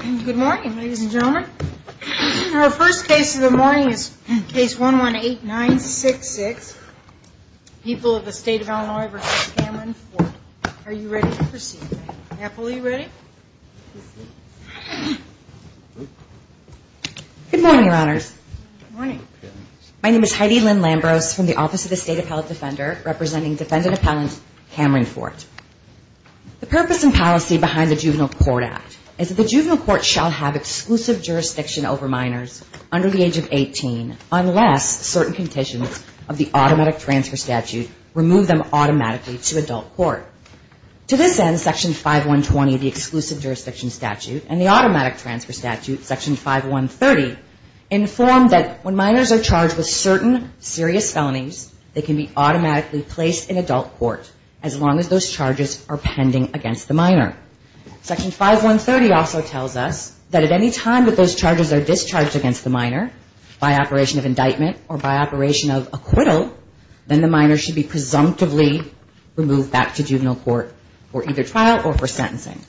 Good morning, ladies and gentlemen. Our first case of the morning is case 118966, People of the State of Illinois v. Cameron Fort. Are you ready to proceed? Apple, are you ready? Good morning, Your Honors. Good morning. My name is Heidi Lynn Lambros from the Office of the State Appellate Defender, representing defendant appellant Cameron Fort. The purpose and policy behind the Juvenile Court Act is that the Juvenile Court shall have exclusive jurisdiction over minors under the age of 18 unless certain conditions of the automatic transfer statute remove them automatically to adult court. To this end, Section 5120, the exclusive jurisdiction statute, and the automatic transfer statute, Section 5130, inform that when minors are charged with certain serious felonies, they can be automatically placed in adult court as long as those charges are pending against the minor. Section 5130 also tells us that at any time that those charges are discharged against the minor by operation of indictment or by operation of acquittal, then the minor should be presumptively removed back to juvenile court for either trial or for sentencing.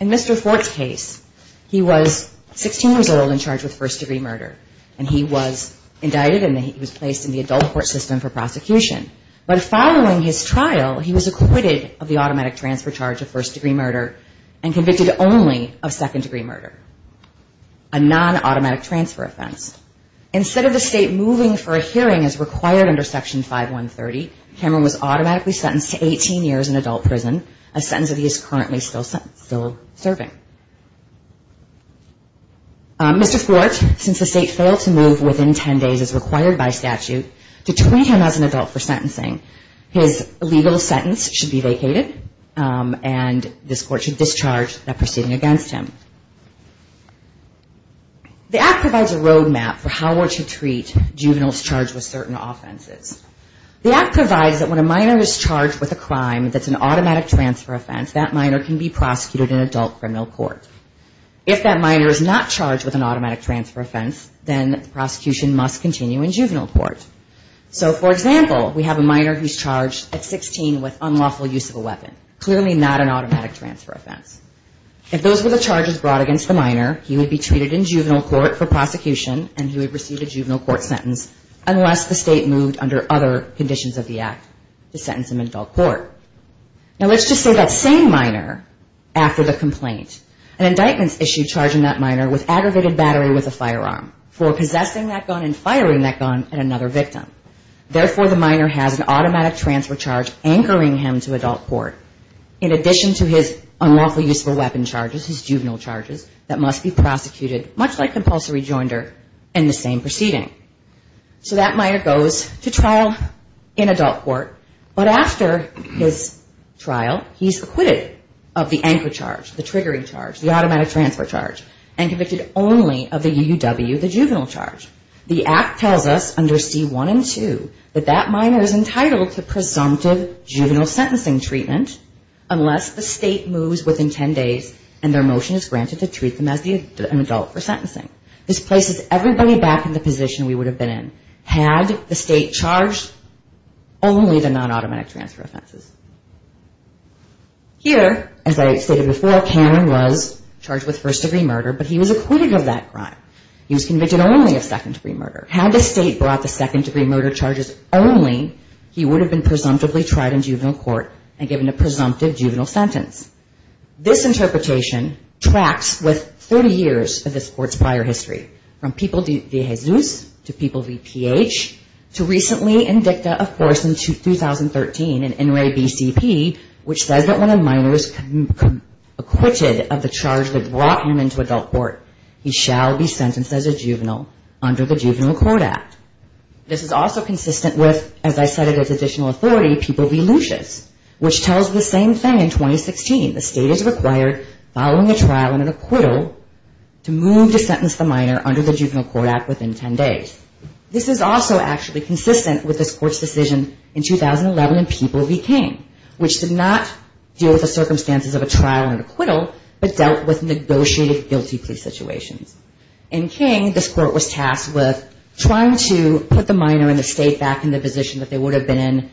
In Mr. Fort's case, he was 16 years old and charged with first-degree murder, and he was indicted and he was placed in the adult court system for prosecution. But following his trial, he was acquitted of the automatic transfer charge of first-degree murder and convicted only of second-degree murder, a non-automatic transfer offense. Instead of the state moving for a hearing as required under Section 5130, Cameron was automatically sentenced to 18 years in adult prison, a sentence that he is currently still serving. Mr. Fort, since the state failed to move within 10 days as required by statute, to train him as an adult for sentencing, his legal sentence should be vacated and this court should discharge that proceeding against him. The act provides a road map for how to treat juveniles charged with certain offenses. The act provides that when a minor is charged with a crime that's an automatic transfer offense, that minor can be prosecuted in adult criminal court. If that minor is not charged with an automatic transfer offense, then the prosecution must continue in juvenile court. So, for example, we have a minor who's charged at 16 with unlawful use of a weapon, clearly not an automatic transfer offense. If those were the charges brought against the minor, he would be treated in juvenile court for prosecution and he would receive a juvenile court sentence unless the state moved under other conditions of the act to sentence him in adult court. Now, let's just say that same minor, after the complaint, an indictment's issued charging that minor with aggravated battery with a firearm for possessing that gun and firing that gun at another victim. Therefore, the minor has an automatic transfer charge anchoring him to adult court in addition to his unlawful use of a weapon charges, his juvenile charges that must be prosecuted, much like compulsory joinder in the same proceeding. So that minor goes to trial in adult court, but after his trial, he's acquitted of the anchor charge, the triggering charge, the automatic transfer charge, and convicted only of the UUW, the juvenile charge. The act tells us under C1 and 2 that that minor is entitled to presumptive juvenile sentencing treatment unless the state moves within 10 days and their motion is granted to treat them as an adult for sentencing. This places everybody back in the position of an adult. Had the state charged, only the non-automatic transfer offenses. Here, as I stated before, Cameron was charged with first-degree murder, but he was acquitted of that crime. He was convicted only of second-degree murder. Had the state brought the second-degree murder charges only, he would have been presumptively tried in juvenile court and given a presumptive juvenile sentence. This interpretation tracks with 30 years of this court's prior history, from people via Jesus to people who were convicted of first-degree murder. To people via PH, to recently in dicta, of course, in 2013, in NRA BCP, which says that when a minor is acquitted of the charge that brought him into adult court, he shall be sentenced as a juvenile under the Juvenile Court Act. This is also consistent with, as I said, additional authority, people via Lucius, which tells the same thing in 2016. The state is required, following a trial and an acquittal, to move to sentence the minor under the Juvenile Court Act within 10 days. This is also actually consistent with this court's decision in 2011 in People v. King, which did not deal with the circumstances of a trial and acquittal, but dealt with negotiated guilty plea situations. In King, this court was tasked with trying to put the minor and the state back in the position that they would have been in,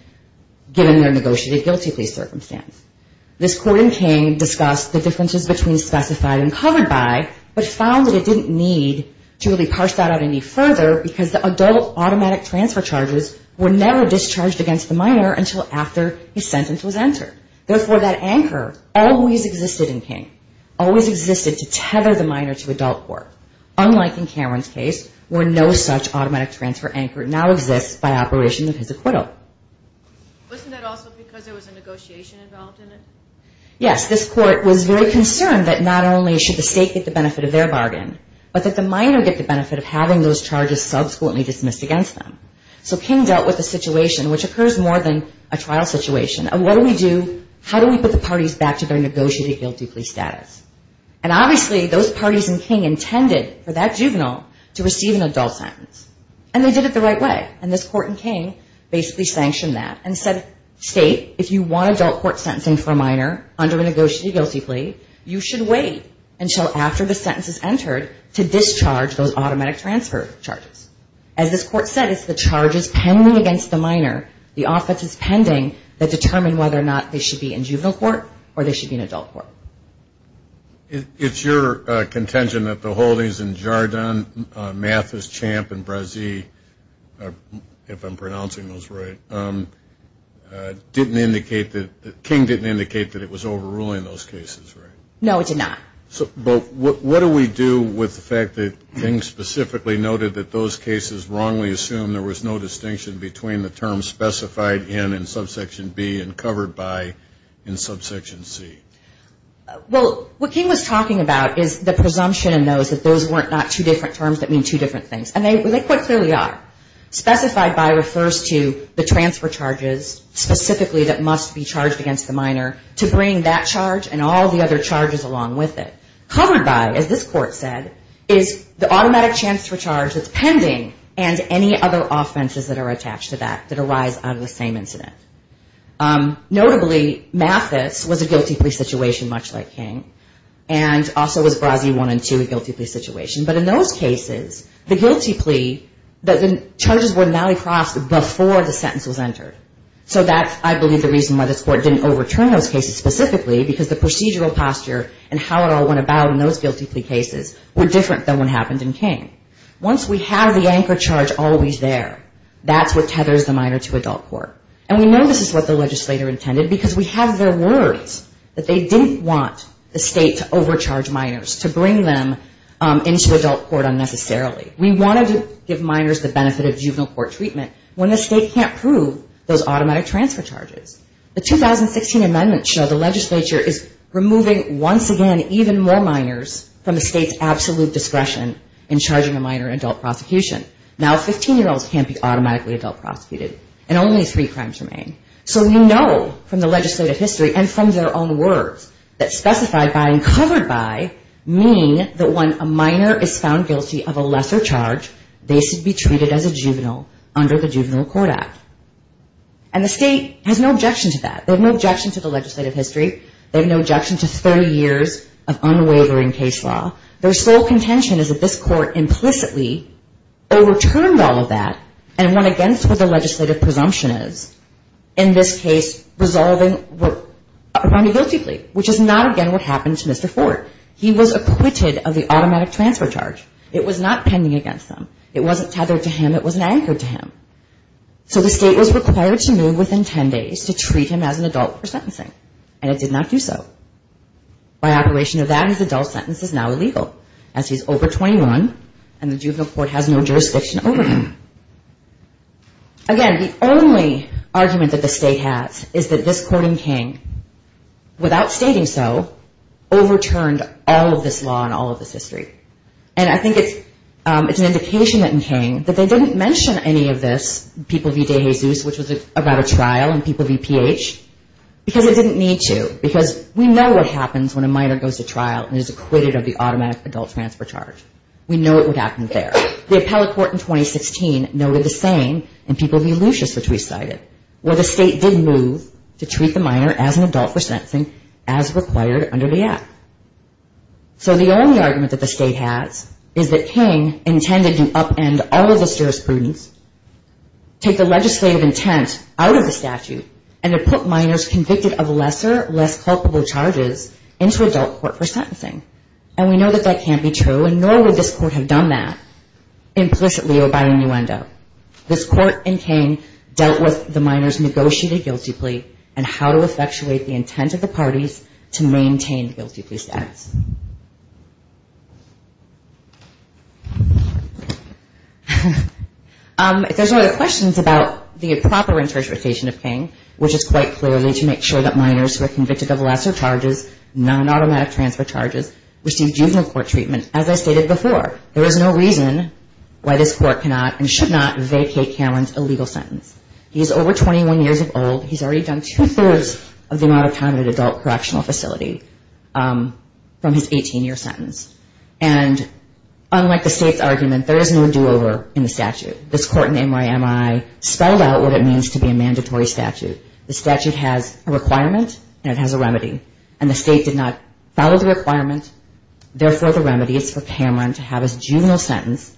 given their negotiated guilty plea circumstance. This court in King discussed the differences between specified and covered by, but found that it didn't need to really parse that out any further, because the adult automatic transfer charges were never discharged against the minor until after his sentence was entered. Therefore, that anchor always existed in King, always existed to tether the minor to adult court, unlike in Cameron's case, where no such automatic transfer anchor now exists by operation of his acquittal. Yes, this court was very concerned that not only should the state get the benefit of their bargain, but that the minor get the benefit of having those charges subsequently dismissed against them. So King dealt with a situation, which occurs more than a trial situation, of what do we do, how do we put the parties back to their negotiated guilty plea status. And obviously, those parties in King intended for that juvenile to receive an adult sentence. And they did it the right way. And this court in King basically sanctioned that. And the state did the same thing in People v. King, which did not deal with the circumstances of a trial and an acquittal. This court in King discussed the differences between specified and covered by, but found that it didn't need to really parse that out any further, because the adult automatic transfer charges were never discharged against the minor. And the state did not deal with the circumstances of a trial and an acquittal. And the state did not deal with the circumstances of a trial and an acquittal. And the state did not deal with the and said, state, if you want adult court sentencing for a minor under a negotiated guilty plea, you should wait until after the sentence is entered to discharge those automatic transfer charges. As this court said, it's the charges pending against the minor, the offenses pending, that determine whether or not they should be in juvenile court or they should be in adult court. It's your contention that the holdings in Jardin, Mathis, Champ, and Brazee, if I'm pronouncing those right, didn't indicate that, King didn't indicate that it was overruling those cases, right? No, it did not. But what do we do with the fact that King specifically noted that those cases wrongly assumed there was no distinction between the terms specified in in subsection B and covered by in subsection C? Well, what King was talking about is the presumption in those that those weren't not two different terms that mean two different things. And they quite clearly are. Specified by refers to the transfer charges specifically that must be charged against the minor to bring that charge and all the other charges along with it. Covered by, as this court said, is the automatic transfer charge that's pending and any other offenses that are attached to that that arise out of the same incident. Notably, Mathis was a guilty plea situation, much like King, and also was Brazee one and two a guilty plea situation. But in those cases, the guilty plea, the charges were now crossed before the sentence was entered. So that's, I believe, the reason why this court didn't overturn those cases specifically, because the procedural posture and how it all went about in those guilty plea cases were different than what happened in King. Once we have the anchor charge always there, that's what tethers the minor to adult court. And we know this is what the legislator intended, because we have their words that they didn't want the state to overcharge minors, to bring them into adult court unnecessarily. We wanted to give minors the benefit of juvenile court treatment when the state can't prove those automatic transfer charges. The 2016 amendments show the legislature is removing, once again, even more minors from the state's absolute discretion in charging a minor in adult prosecution. Now, 15-year-olds can't be automatically adult prosecuted, and only three crimes remain. So we know from the legislative history and from their own words that specified by and covered by mean that when a minor is found guilty of a lesser charge, they should be treated as a juvenile under the Juvenile Court Act. And the state has no objection to that. They have no objection to the legislative history. They have no objection to 30 years of unwavering case law. Their sole contention is that this court implicitly overturned all of that and went against what the legislative presumption is, in this case, resolving a found guilty plea, which is not, again, what happened to Mr. Ford. He was acquitted of the automatic transfer charge. It was not pending against him. It wasn't tethered to him. It wasn't anchored to him. So the state was required to move within 10 days to treat him as an adult for sentencing, and it did not do so. By operation of that, his adult sentence is now illegal, as he's over 21, and the juvenile court has no jurisdiction over him. Again, the only argument that the state has is that this court in King, without stating so, overturned all of this law and all of this history. And I think it's an indication that in King, that they didn't mention any of this in the legislative history. That they didn't mention this, POVD-Jesus, which was about a trial, and POVPH, because it didn't need to, because we know what happens when a minor goes to trial and is acquitted of the automatic adult transfer charge. We know what would happen there. The appellate court in 2016 noted the same in POV Lucious, which we cited, where the state did move to treat the minor as an adult for sentencing as required under the app. So the only argument that the state has is that King intended to upend all of the jurisprudence, take the legislative intent out of the statute, and to put minors convicted of lesser, less culpable charges into adult court for sentencing. And we know that that can't be true, and nor would this court have done that implicitly or by innuendo. This court in King dealt with the minors' negotiated guilty plea and how to effectuate the intent of the parties to maintain the guilty plea status. If there's no other questions about the proper interpretation of King, which is quite clearly to make sure that minors who are convicted of lesser charges, non-automatic transfer charges, receive juvenile court treatment, as I stated before, there is no reason why this court cannot and should not vacate Cameron's illegal sentence. He is over 21 years of old. He's a already done two-thirds of the amount of time in an adult correctional facility from his 18-year sentence. And unlike the state's argument, there is no do-over in the statute. This court in NYMI spelled out what it means to be a mandatory statute. The statute has a requirement and it has a remedy. And the state did not follow the requirement. Therefore, the remedy is for Cameron to have his juvenile sentence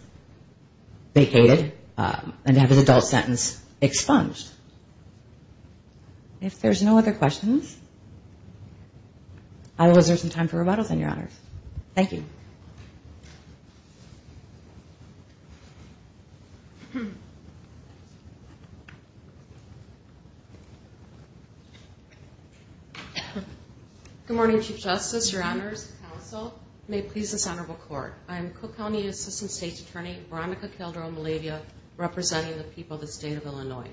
vacated and to have his adult sentence expunged. If there's no other questions, I will reserve some time for rebuttals on your honors. Thank you. Good morning, Chief Justice, your Honors, Counsel, may it please the Senate of the court. I am Cook County Assistant State's Attorney Veronica Calderon-Malavia, representing the people of the State of Illinois.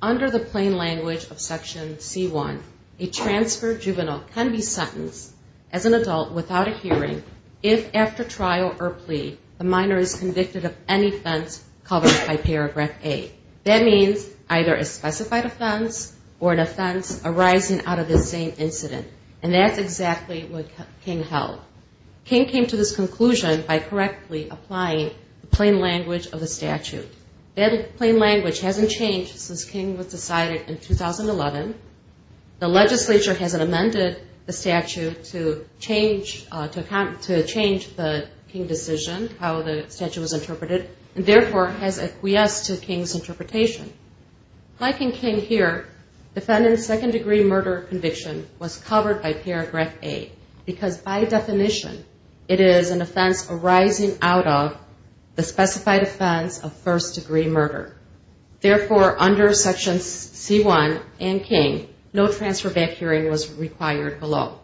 Under the plain language of Section C1, a transferred juvenile can be sentenced as an adult without a hearing if after trial, the defendant is found guilty of the crime of manslaughter. If there is no trial or plea, the minor is convicted of any offense covered by Paragraph A. That means either a specified offense or an offense arising out of the same incident. And that's exactly what King held. King came to this conclusion by correctly applying the plain language of the statute. That plain language hasn't changed since King was decided in 2011. The legislature hasn't amended the statute to change the statute. The statute is still in effect. King's decision, how the statute was interpreted, and therefore has acquiesced to King's interpretation. Like in King here, defendant's second-degree murder conviction was covered by Paragraph A because by definition, it is an offense arising out of the specified offense of first-degree murder. Therefore, under Sections C1 and King, no transfer-back hearing was required below.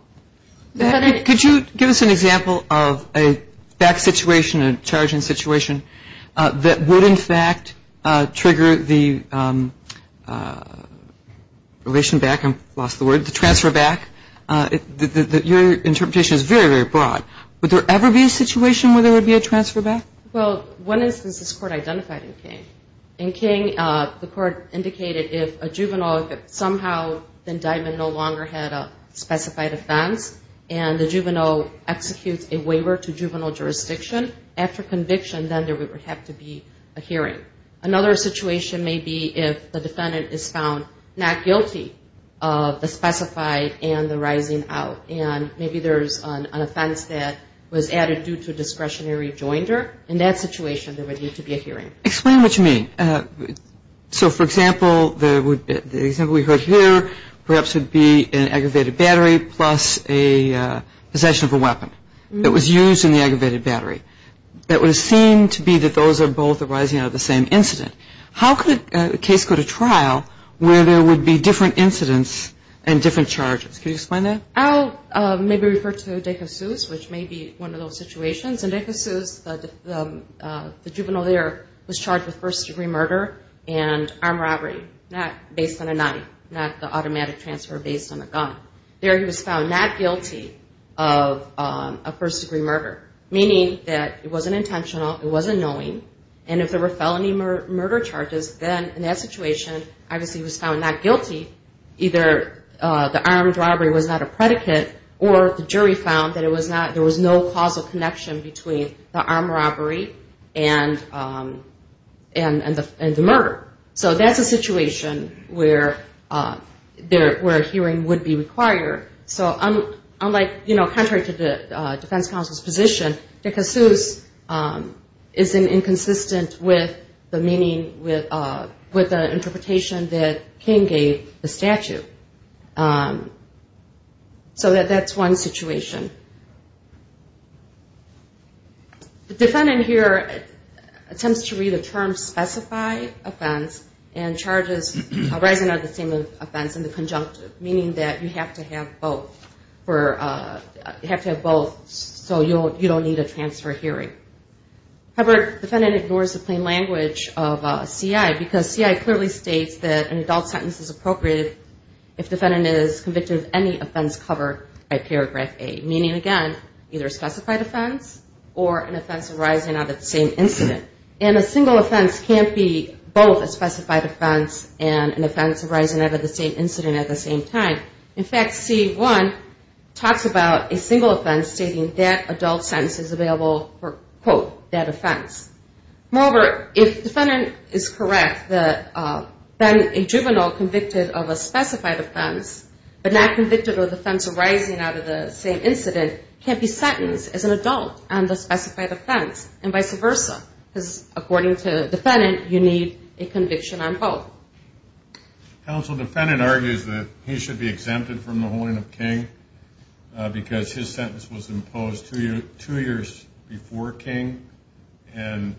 Could you give us an example of a back situation, a charging situation, that would in fact trigger the relation back, I lost the word, the transfer-back? Your interpretation is very, very broad. Would there ever be a situation where there would be a transfer-back? Well, one instance this Court identified in King. In King, the Court indicated if a juvenile somehow, the indictment no longer had a specified offense, and the juvenile executes a waiver to juvenile jurisdiction, after conviction, then there would have to be a hearing. Another situation may be if the defendant is found not guilty of the specified and the rising out. And maybe there's an offense that was added due to discretionary joinder. In that situation, there would need to be a hearing. Explain what you mean. So, for example, the example we heard here perhaps would be an aggravated battery plus a possession of a weapon that was used in the aggravated battery. That would seem to be that those are both arising out of the same incident. How could a case go to trial where there would be different incidents and different charges? Could you explain that? I'll maybe refer to De Jesus, which may be one of those situations. In De Jesus, the juvenile there was charged with first-degree murder and armed robbery, not based on a knife, not the automatic transfer based on a gun. There he was found not guilty of a first-degree murder, meaning that it wasn't intentional, it wasn't knowing, and if there were felony murder charges, then in that situation, obviously he was found not guilty. Either the armed robbery was not a predicate or the jury found that there was no causal connection between the armed robbery and the murder. So that's a situation where a hearing would be required. So unlike, you know, contrary to the defense counsel's position, De Jesus is inconsistent with the meaning, with the interpretation that King gave the statute. So that's one situation. The defendant here attempts to read a term specified offense and charges arising out of the same offense in the conjunctive, meaning that you have to have both so you don't need a transfer hearing. However, the defendant ignores the plain language of C.I. because C.I. clearly states that an adult sentence is appropriate if the defendant is convicted of any offense covered by paragraph A, meaning, again, either a specified offense or an offense arising out of the same incident. And a single offense can't be both a specified offense and an offense arising out of the same incident at the same time. In fact, C.I. talks about a single offense stating that adult sentence is available for, quote, that offense. Moreover, if the defendant is correct, then a juvenile convicted of a specified offense but not convicted of an offense arising out of the same incident can't be sentenced as an adult on the specified offense and vice versa because according to the defendant, you need a conviction on both. Counsel, the defendant argues that he should be exempted from the holding of King because his sentence was imposed two years before King and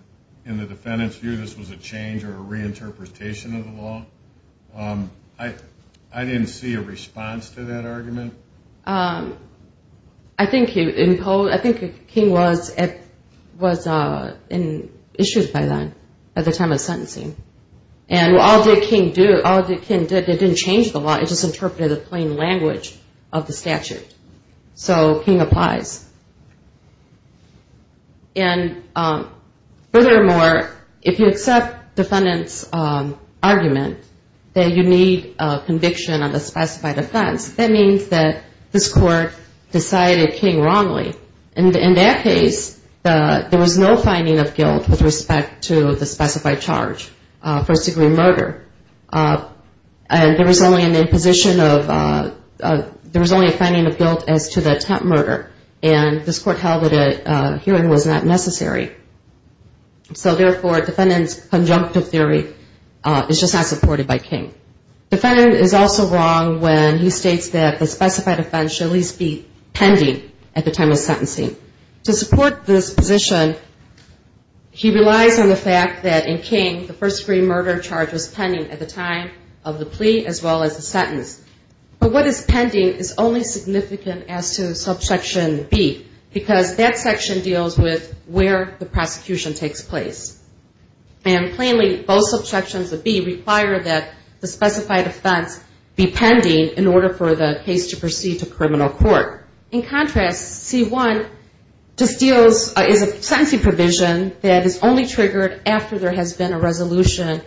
in the defendant's view, this was a change or a reinterpretation of the law. I didn't see a response to that argument. I think King was issued by then at the time of sentencing. And all that King did, it didn't change the law, it just interpreted the plain language of the statute. So King applies. And furthermore, if you accept the defendant's argument that you need a conviction on the specified offense, that means that this court decided King wrongly. In that case, there was no finding of guilt with respect to the specified charge for a second murder. And there was only an imposition of, there was only a finding of guilt as to the attempt murder. And this court held that a hearing was not necessary. So therefore, defendant's conjunctive theory is just not supported by King. Defendant is also wrong when he states that the specified offense should at least be pending at the time of sentencing. To support this position, he relies on the fact that in King, the first degree murder charge was pending at the time of the plea as well as the sentence. But what is pending is only significant as to subsection B, because that section deals with where the prosecution takes place. And plainly, both subsections of B require that the specified offense be pending in order for the case to proceed to criminal court. In contrast, C1 just deals, is a sentencing provision that is only triggered after there has been a resolution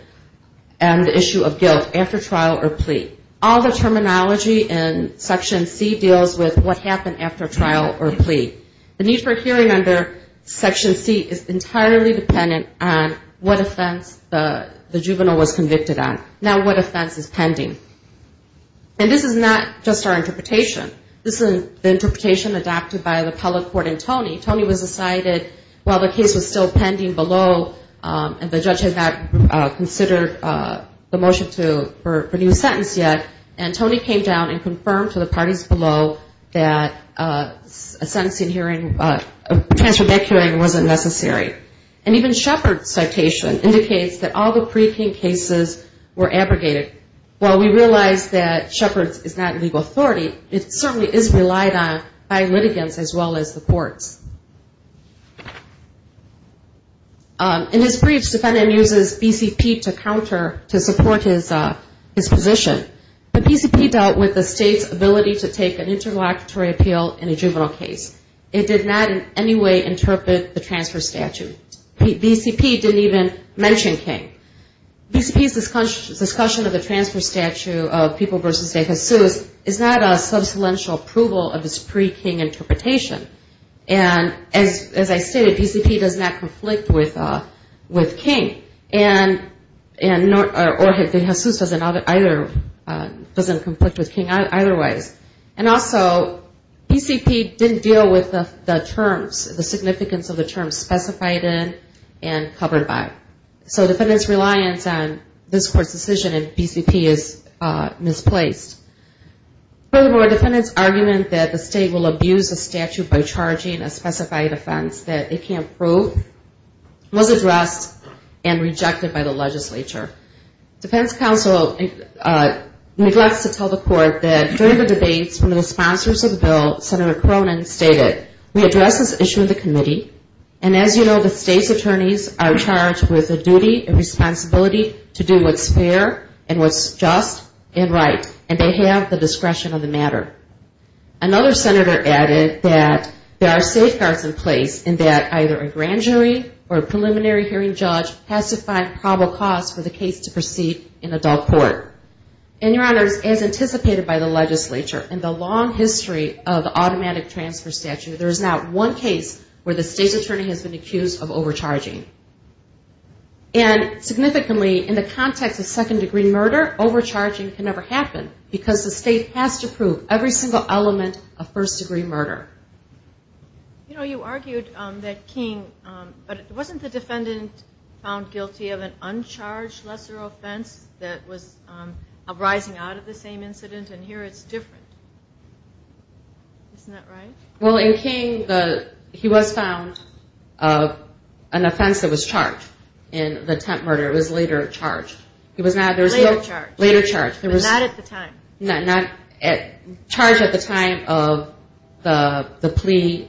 on the issue of guilt, after trial or plea. All the terminology in section C deals with what happened after trial or plea. The need for a hearing under section C is entirely dependent on what offense the juvenile was convicted on. Now, what offense is pending? And this is not just our interpretation. This is the interpretation adopted by the appellate court and Tony. Tony was decided while the case was still pending below and the judge had not considered the motion to renew the sentence yet, and Tony came down and confirmed to the parties below that a sentencing hearing, a transfer back hearing wasn't necessary. And even Shepard's citation indicates that all the pre-King cases were abrogated. While we realize that Shepard's is not legal authority, it certainly is relied on by litigants as well as the courts. In his briefs, defendant uses BCP to counter, to support his position. But BCP dealt with the state's ability to take an interlocutory appeal in a juvenile case. It did not in any way interpret the transfer statute. BCP didn't even mention King. BCP's discussion of the transfer statute of Peoples v. De Jesus is not a substantial approval of this pre-King interpretation. And as I stated, BCP does not conflict with King or De Jesus doesn't conflict with King either way. And also, BCP didn't deal with the terms, the significance of the terms specified in and covered by. So defendant's reliance on this court's decision in BCP is misplaced. Furthermore, defendant's argument that the state will abuse the statute by charging a specified offense that it can't prove was addressed and rejected by the legislature. Defense counsel neglects to tell the court that during the debates, one of the sponsors of the bill, Senator Cronin, stated, we address this issue in the committee. And as you know, the state's attorneys are charged with a duty and responsibility to do what's fair and what's just and right. And they have the discretion of the matter. Another senator added that there are safeguards in place and that either a grand jury or a preliminary hearing judge has to find probable cause for the case to proceed in adult court. And, Your Honors, as anticipated by the legislature, in the long history of automatic transfer statute, there is not one case where the state's attorney has been accused of overcharging. And significantly, in the context of second degree murder, overcharging can never happen because the state has to prove everything that it says in the statute. Every single element of first degree murder. You know, you argued that King, but wasn't the defendant found guilty of an uncharged lesser offense that was arising out of the same incident and here it's different? Isn't that right? Well, in King, he was found of an offense that was charged in the temp murder. It was later charged. It was later charged. Not at the time. Charged at the time of the plea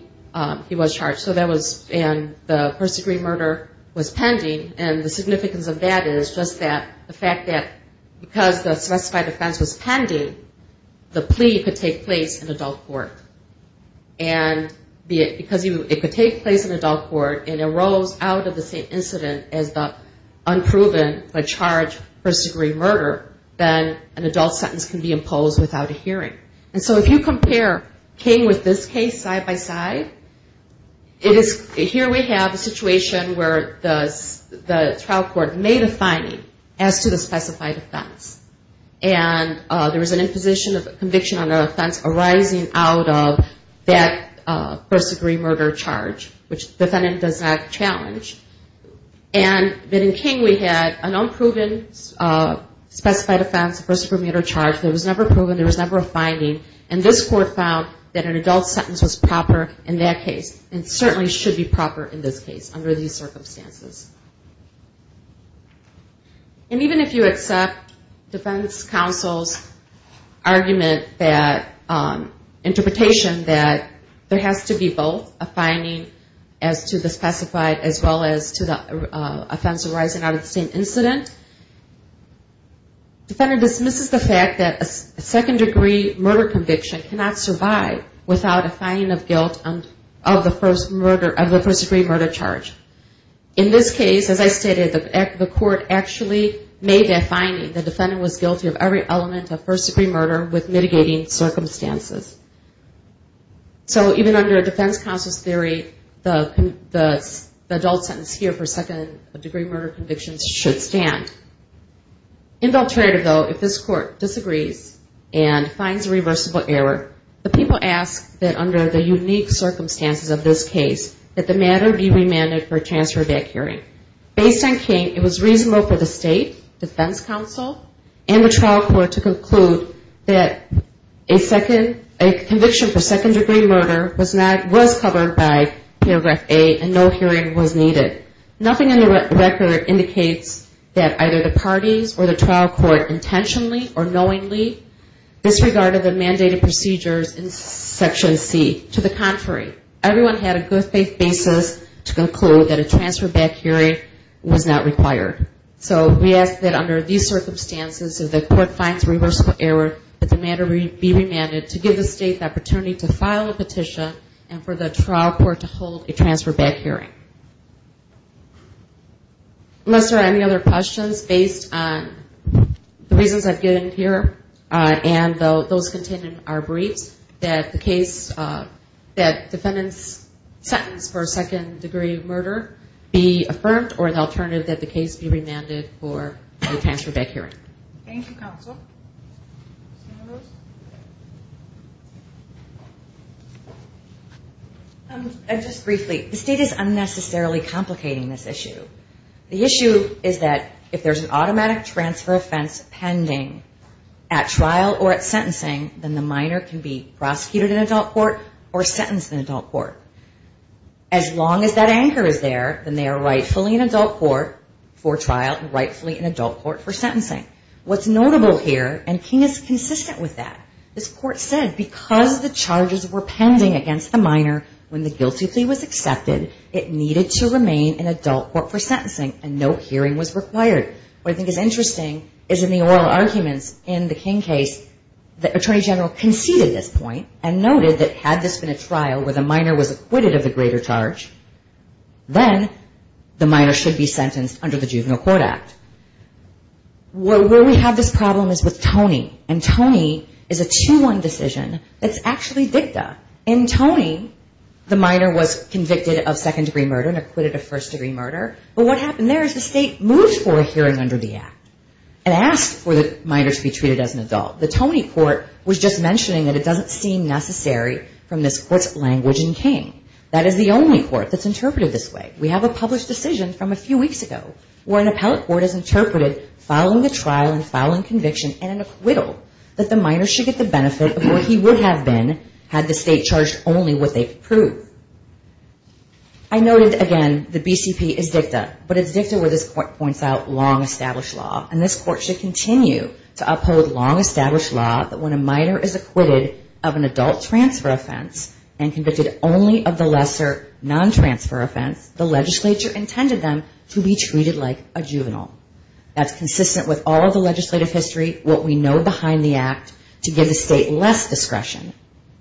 he was charged. So that was in the first degree murder was pending. And the significance of that is just that the fact that because the specified offense was pending, the plea could take place in adult court. And because it could take place in adult court and arose out of the same incident as the unproven but charged first degree murder, then an adult sentence can be imposed without a hearing. And so if you compare King with this case side by side, here we have a situation where the trial court made a finding as to the specified offense. And there was an imposition of conviction on the offense arising out of that first degree murder charge, which the defendant does not challenge. And then in King, we had an unproven specified offense, first degree murder charge that was never proven. There was never a finding. And this court found that an adult sentence was proper in that case and certainly should be proper in this case under these circumstances. And even if you accept defense counsel's argument that interpretation that there has to be both a finding as to the specified as well as to the offense arising out of the same incident, the defendant dismisses the fact that a second degree murder conviction cannot survive without a finding of guilt of the first degree murder charge. In this case, as I stated, the court actually made a finding. The defendant was guilty of every element of first degree murder with mitigating circumstances. So even under defense counsel's theory, the adult sentence here for second degree murder convictions should stand. Indulterative though, if this court disagrees and finds a reversible error, the people ask that under the unique circumstances of this case, that the matter be remanded for transfer of that hearing. Based on King, it was reasonable for the state, defense counsel, and the trial court to conclude that a conviction for second degree murder was covered by paragraph A and no hearing was needed. Nothing in the record indicates that either the parties or the trial court intentionally or knowingly disregarded the mandated procedures in section C. To the contrary, everyone had a good faith basis to conclude that a transfer back hearing was not required. So we ask that under these circumstances, if the court finds reversible error, that the matter be remanded to give the state the opportunity to file a petition and for the trial court to hold a transfer back hearing. Unless there are any other questions based on the reasons I've given here and those contained in our briefs, that the case, that defendant's sentence for second degree murder be affirmed or an alternative that the case be remanded for a transfer back hearing. Thank you, counsel. Just briefly, the state is unnecessarily complicating this issue. The issue is that if there's an automatic transfer offense pending at trial or at sentencing, then the minor can be prosecuted in adult court or sentenced in adult court. As long as that anchor is there, then they are rightfully in adult court for trial and rightfully in adult court for sentencing. What's notable here, and King is consistent with that, this court said because the charges were pending against the minor when the guilty plea was accepted, it needed to remain in adult court for sentencing and no hearing was required. What I think is interesting is in the oral arguments in the King case, the attorney general conceded this point and noted that had this been a trial where the minor was acquitted of the greater charge, then the minor should be sentenced under the Juvenile Court Act. Where we have this problem is with Toney. And Toney is a 2-1 decision that's actually dicta. In Toney, the minor was convicted of second-degree murder and acquitted of first-degree murder. But what happened there is the state moved for a hearing under the act and asked for the minor to be treated as an adult. The Toney court was just mentioning that it doesn't seem necessary from this court's language in King. That is the only court that's interpreted this way. We have a published decision from a few weeks ago where an appellate court has interpreted following the trial and following conviction and an acquittal that the minor should get the benefit of what he would have been had the state charged only with a proof. I noted again the BCP is dicta, but it's dicta where this court points out long-established law. And this court should continue to uphold long-established law that when a minor is acquitted of an adult transfer offense and convicted only of the lesser non-transfer offense, the legislature intended them to be treated like a juvenile. That's consistent with all of the legislative history, what we know behind the act, to give the state less discretion,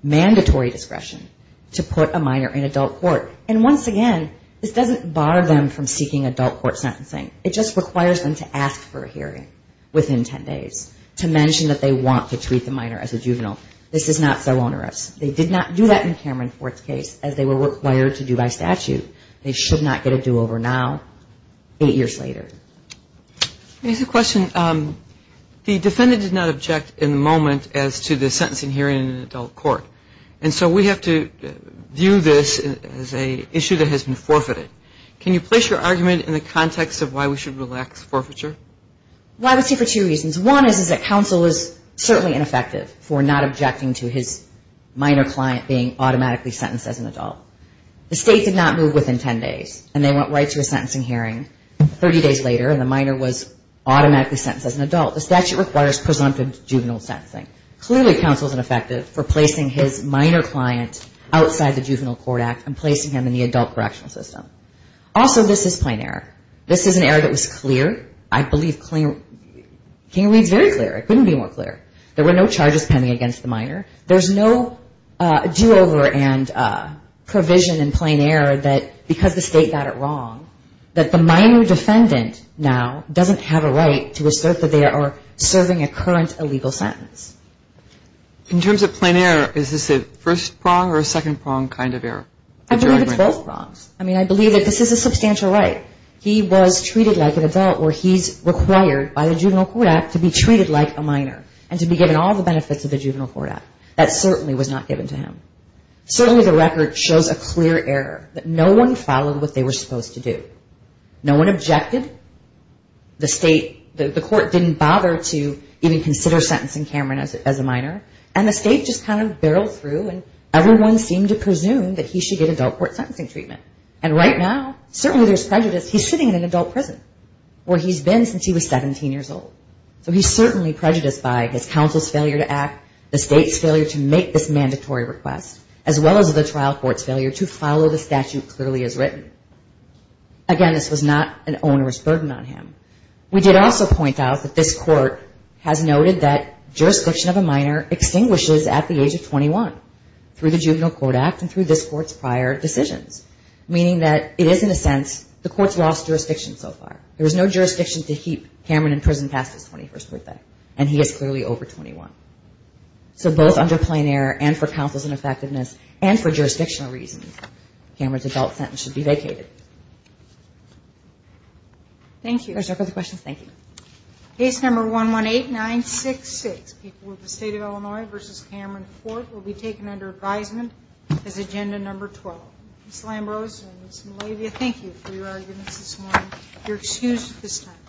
mandatory discretion, to put a minor in adult court. And once again, this doesn't bar them from seeking adult court sentencing. It just requires them to ask for a hearing within ten days, to mention that they want to treat the minor as a juvenile. This is not so onerous. They did not do that in Cameron Ford's case, as they were required to do by statute. They should not get a do-over now, eight years later. Let me ask a question. The defendant did not object in the moment as to the sentencing hearing in an adult court. And so we have to view this as an issue that has been forfeited. Can you place your argument in the context of why we should relax forfeiture? Well, I would say for two reasons. One is that counsel is certainly ineffective for not objecting to his minor client being automatically sentenced as an adult. The state did not move within ten days, and they went right to a sentencing hearing. Thirty days later, the minor was automatically sentenced as an adult. The statute requires presumptive juvenile sentencing. Clearly, counsel is ineffective for placing his minor client outside the Juvenile Court Act and placing him in the adult correctional system. Also, this is plain error. This is an error that was clear. I believe King reads very clear. It couldn't be more clear. There were no charges pending against the minor. There's no do-over and provision in plain error that because the state got it wrong, that the minor defendant now doesn't have a right to assert that they are serving a current illegal sentence. In terms of plain error, is this a first prong or a second prong kind of error? I believe it's both prongs. I mean, I believe that this is a substantial right. He was treated like an adult, or he's required by the Juvenile Court Act to be treated like a minor and to be given all the benefits of the Juvenile Court Act. That certainly was not given to him. Certainly, the record shows a clear error that no one followed what they were supposed to do. No one objected. The court didn't bother to even consider sentencing Cameron as a minor, and the state just kind of barreled through, and everyone seemed to presume that he should get adult court sentencing treatment. And right now, certainly there's prejudice. He's sitting in an adult prison where he's been since he was 17 years old. So he's certainly prejudiced by his counsel's failure to act, the state's failure to make this mandatory request, as well as the trial court's failure to follow the statute clearly as written. Again, this was not an owner's burden on him. We did also point out that this court has noted that jurisdiction of a minor extinguishes at the age of 21 through the Juvenile Court Act and through this court's prior decisions, meaning that it is, in a sense, the court's lost jurisdiction so far. There was no jurisdiction to keep Cameron in prison past his 21st birthday, and he is clearly over 21. So both under plenary and for counsel's ineffectiveness and for jurisdictional reasons, Cameron's adult sentence should be vacated. Thank you. Are there further questions? Thank you. Case number 118966, people of the State of Illinois v. Cameron Fort, will be taken under advisement as agenda number 12. Ms. Lambrose and Ms. Malavia, thank you for your arguments this morning. You're excused at this time.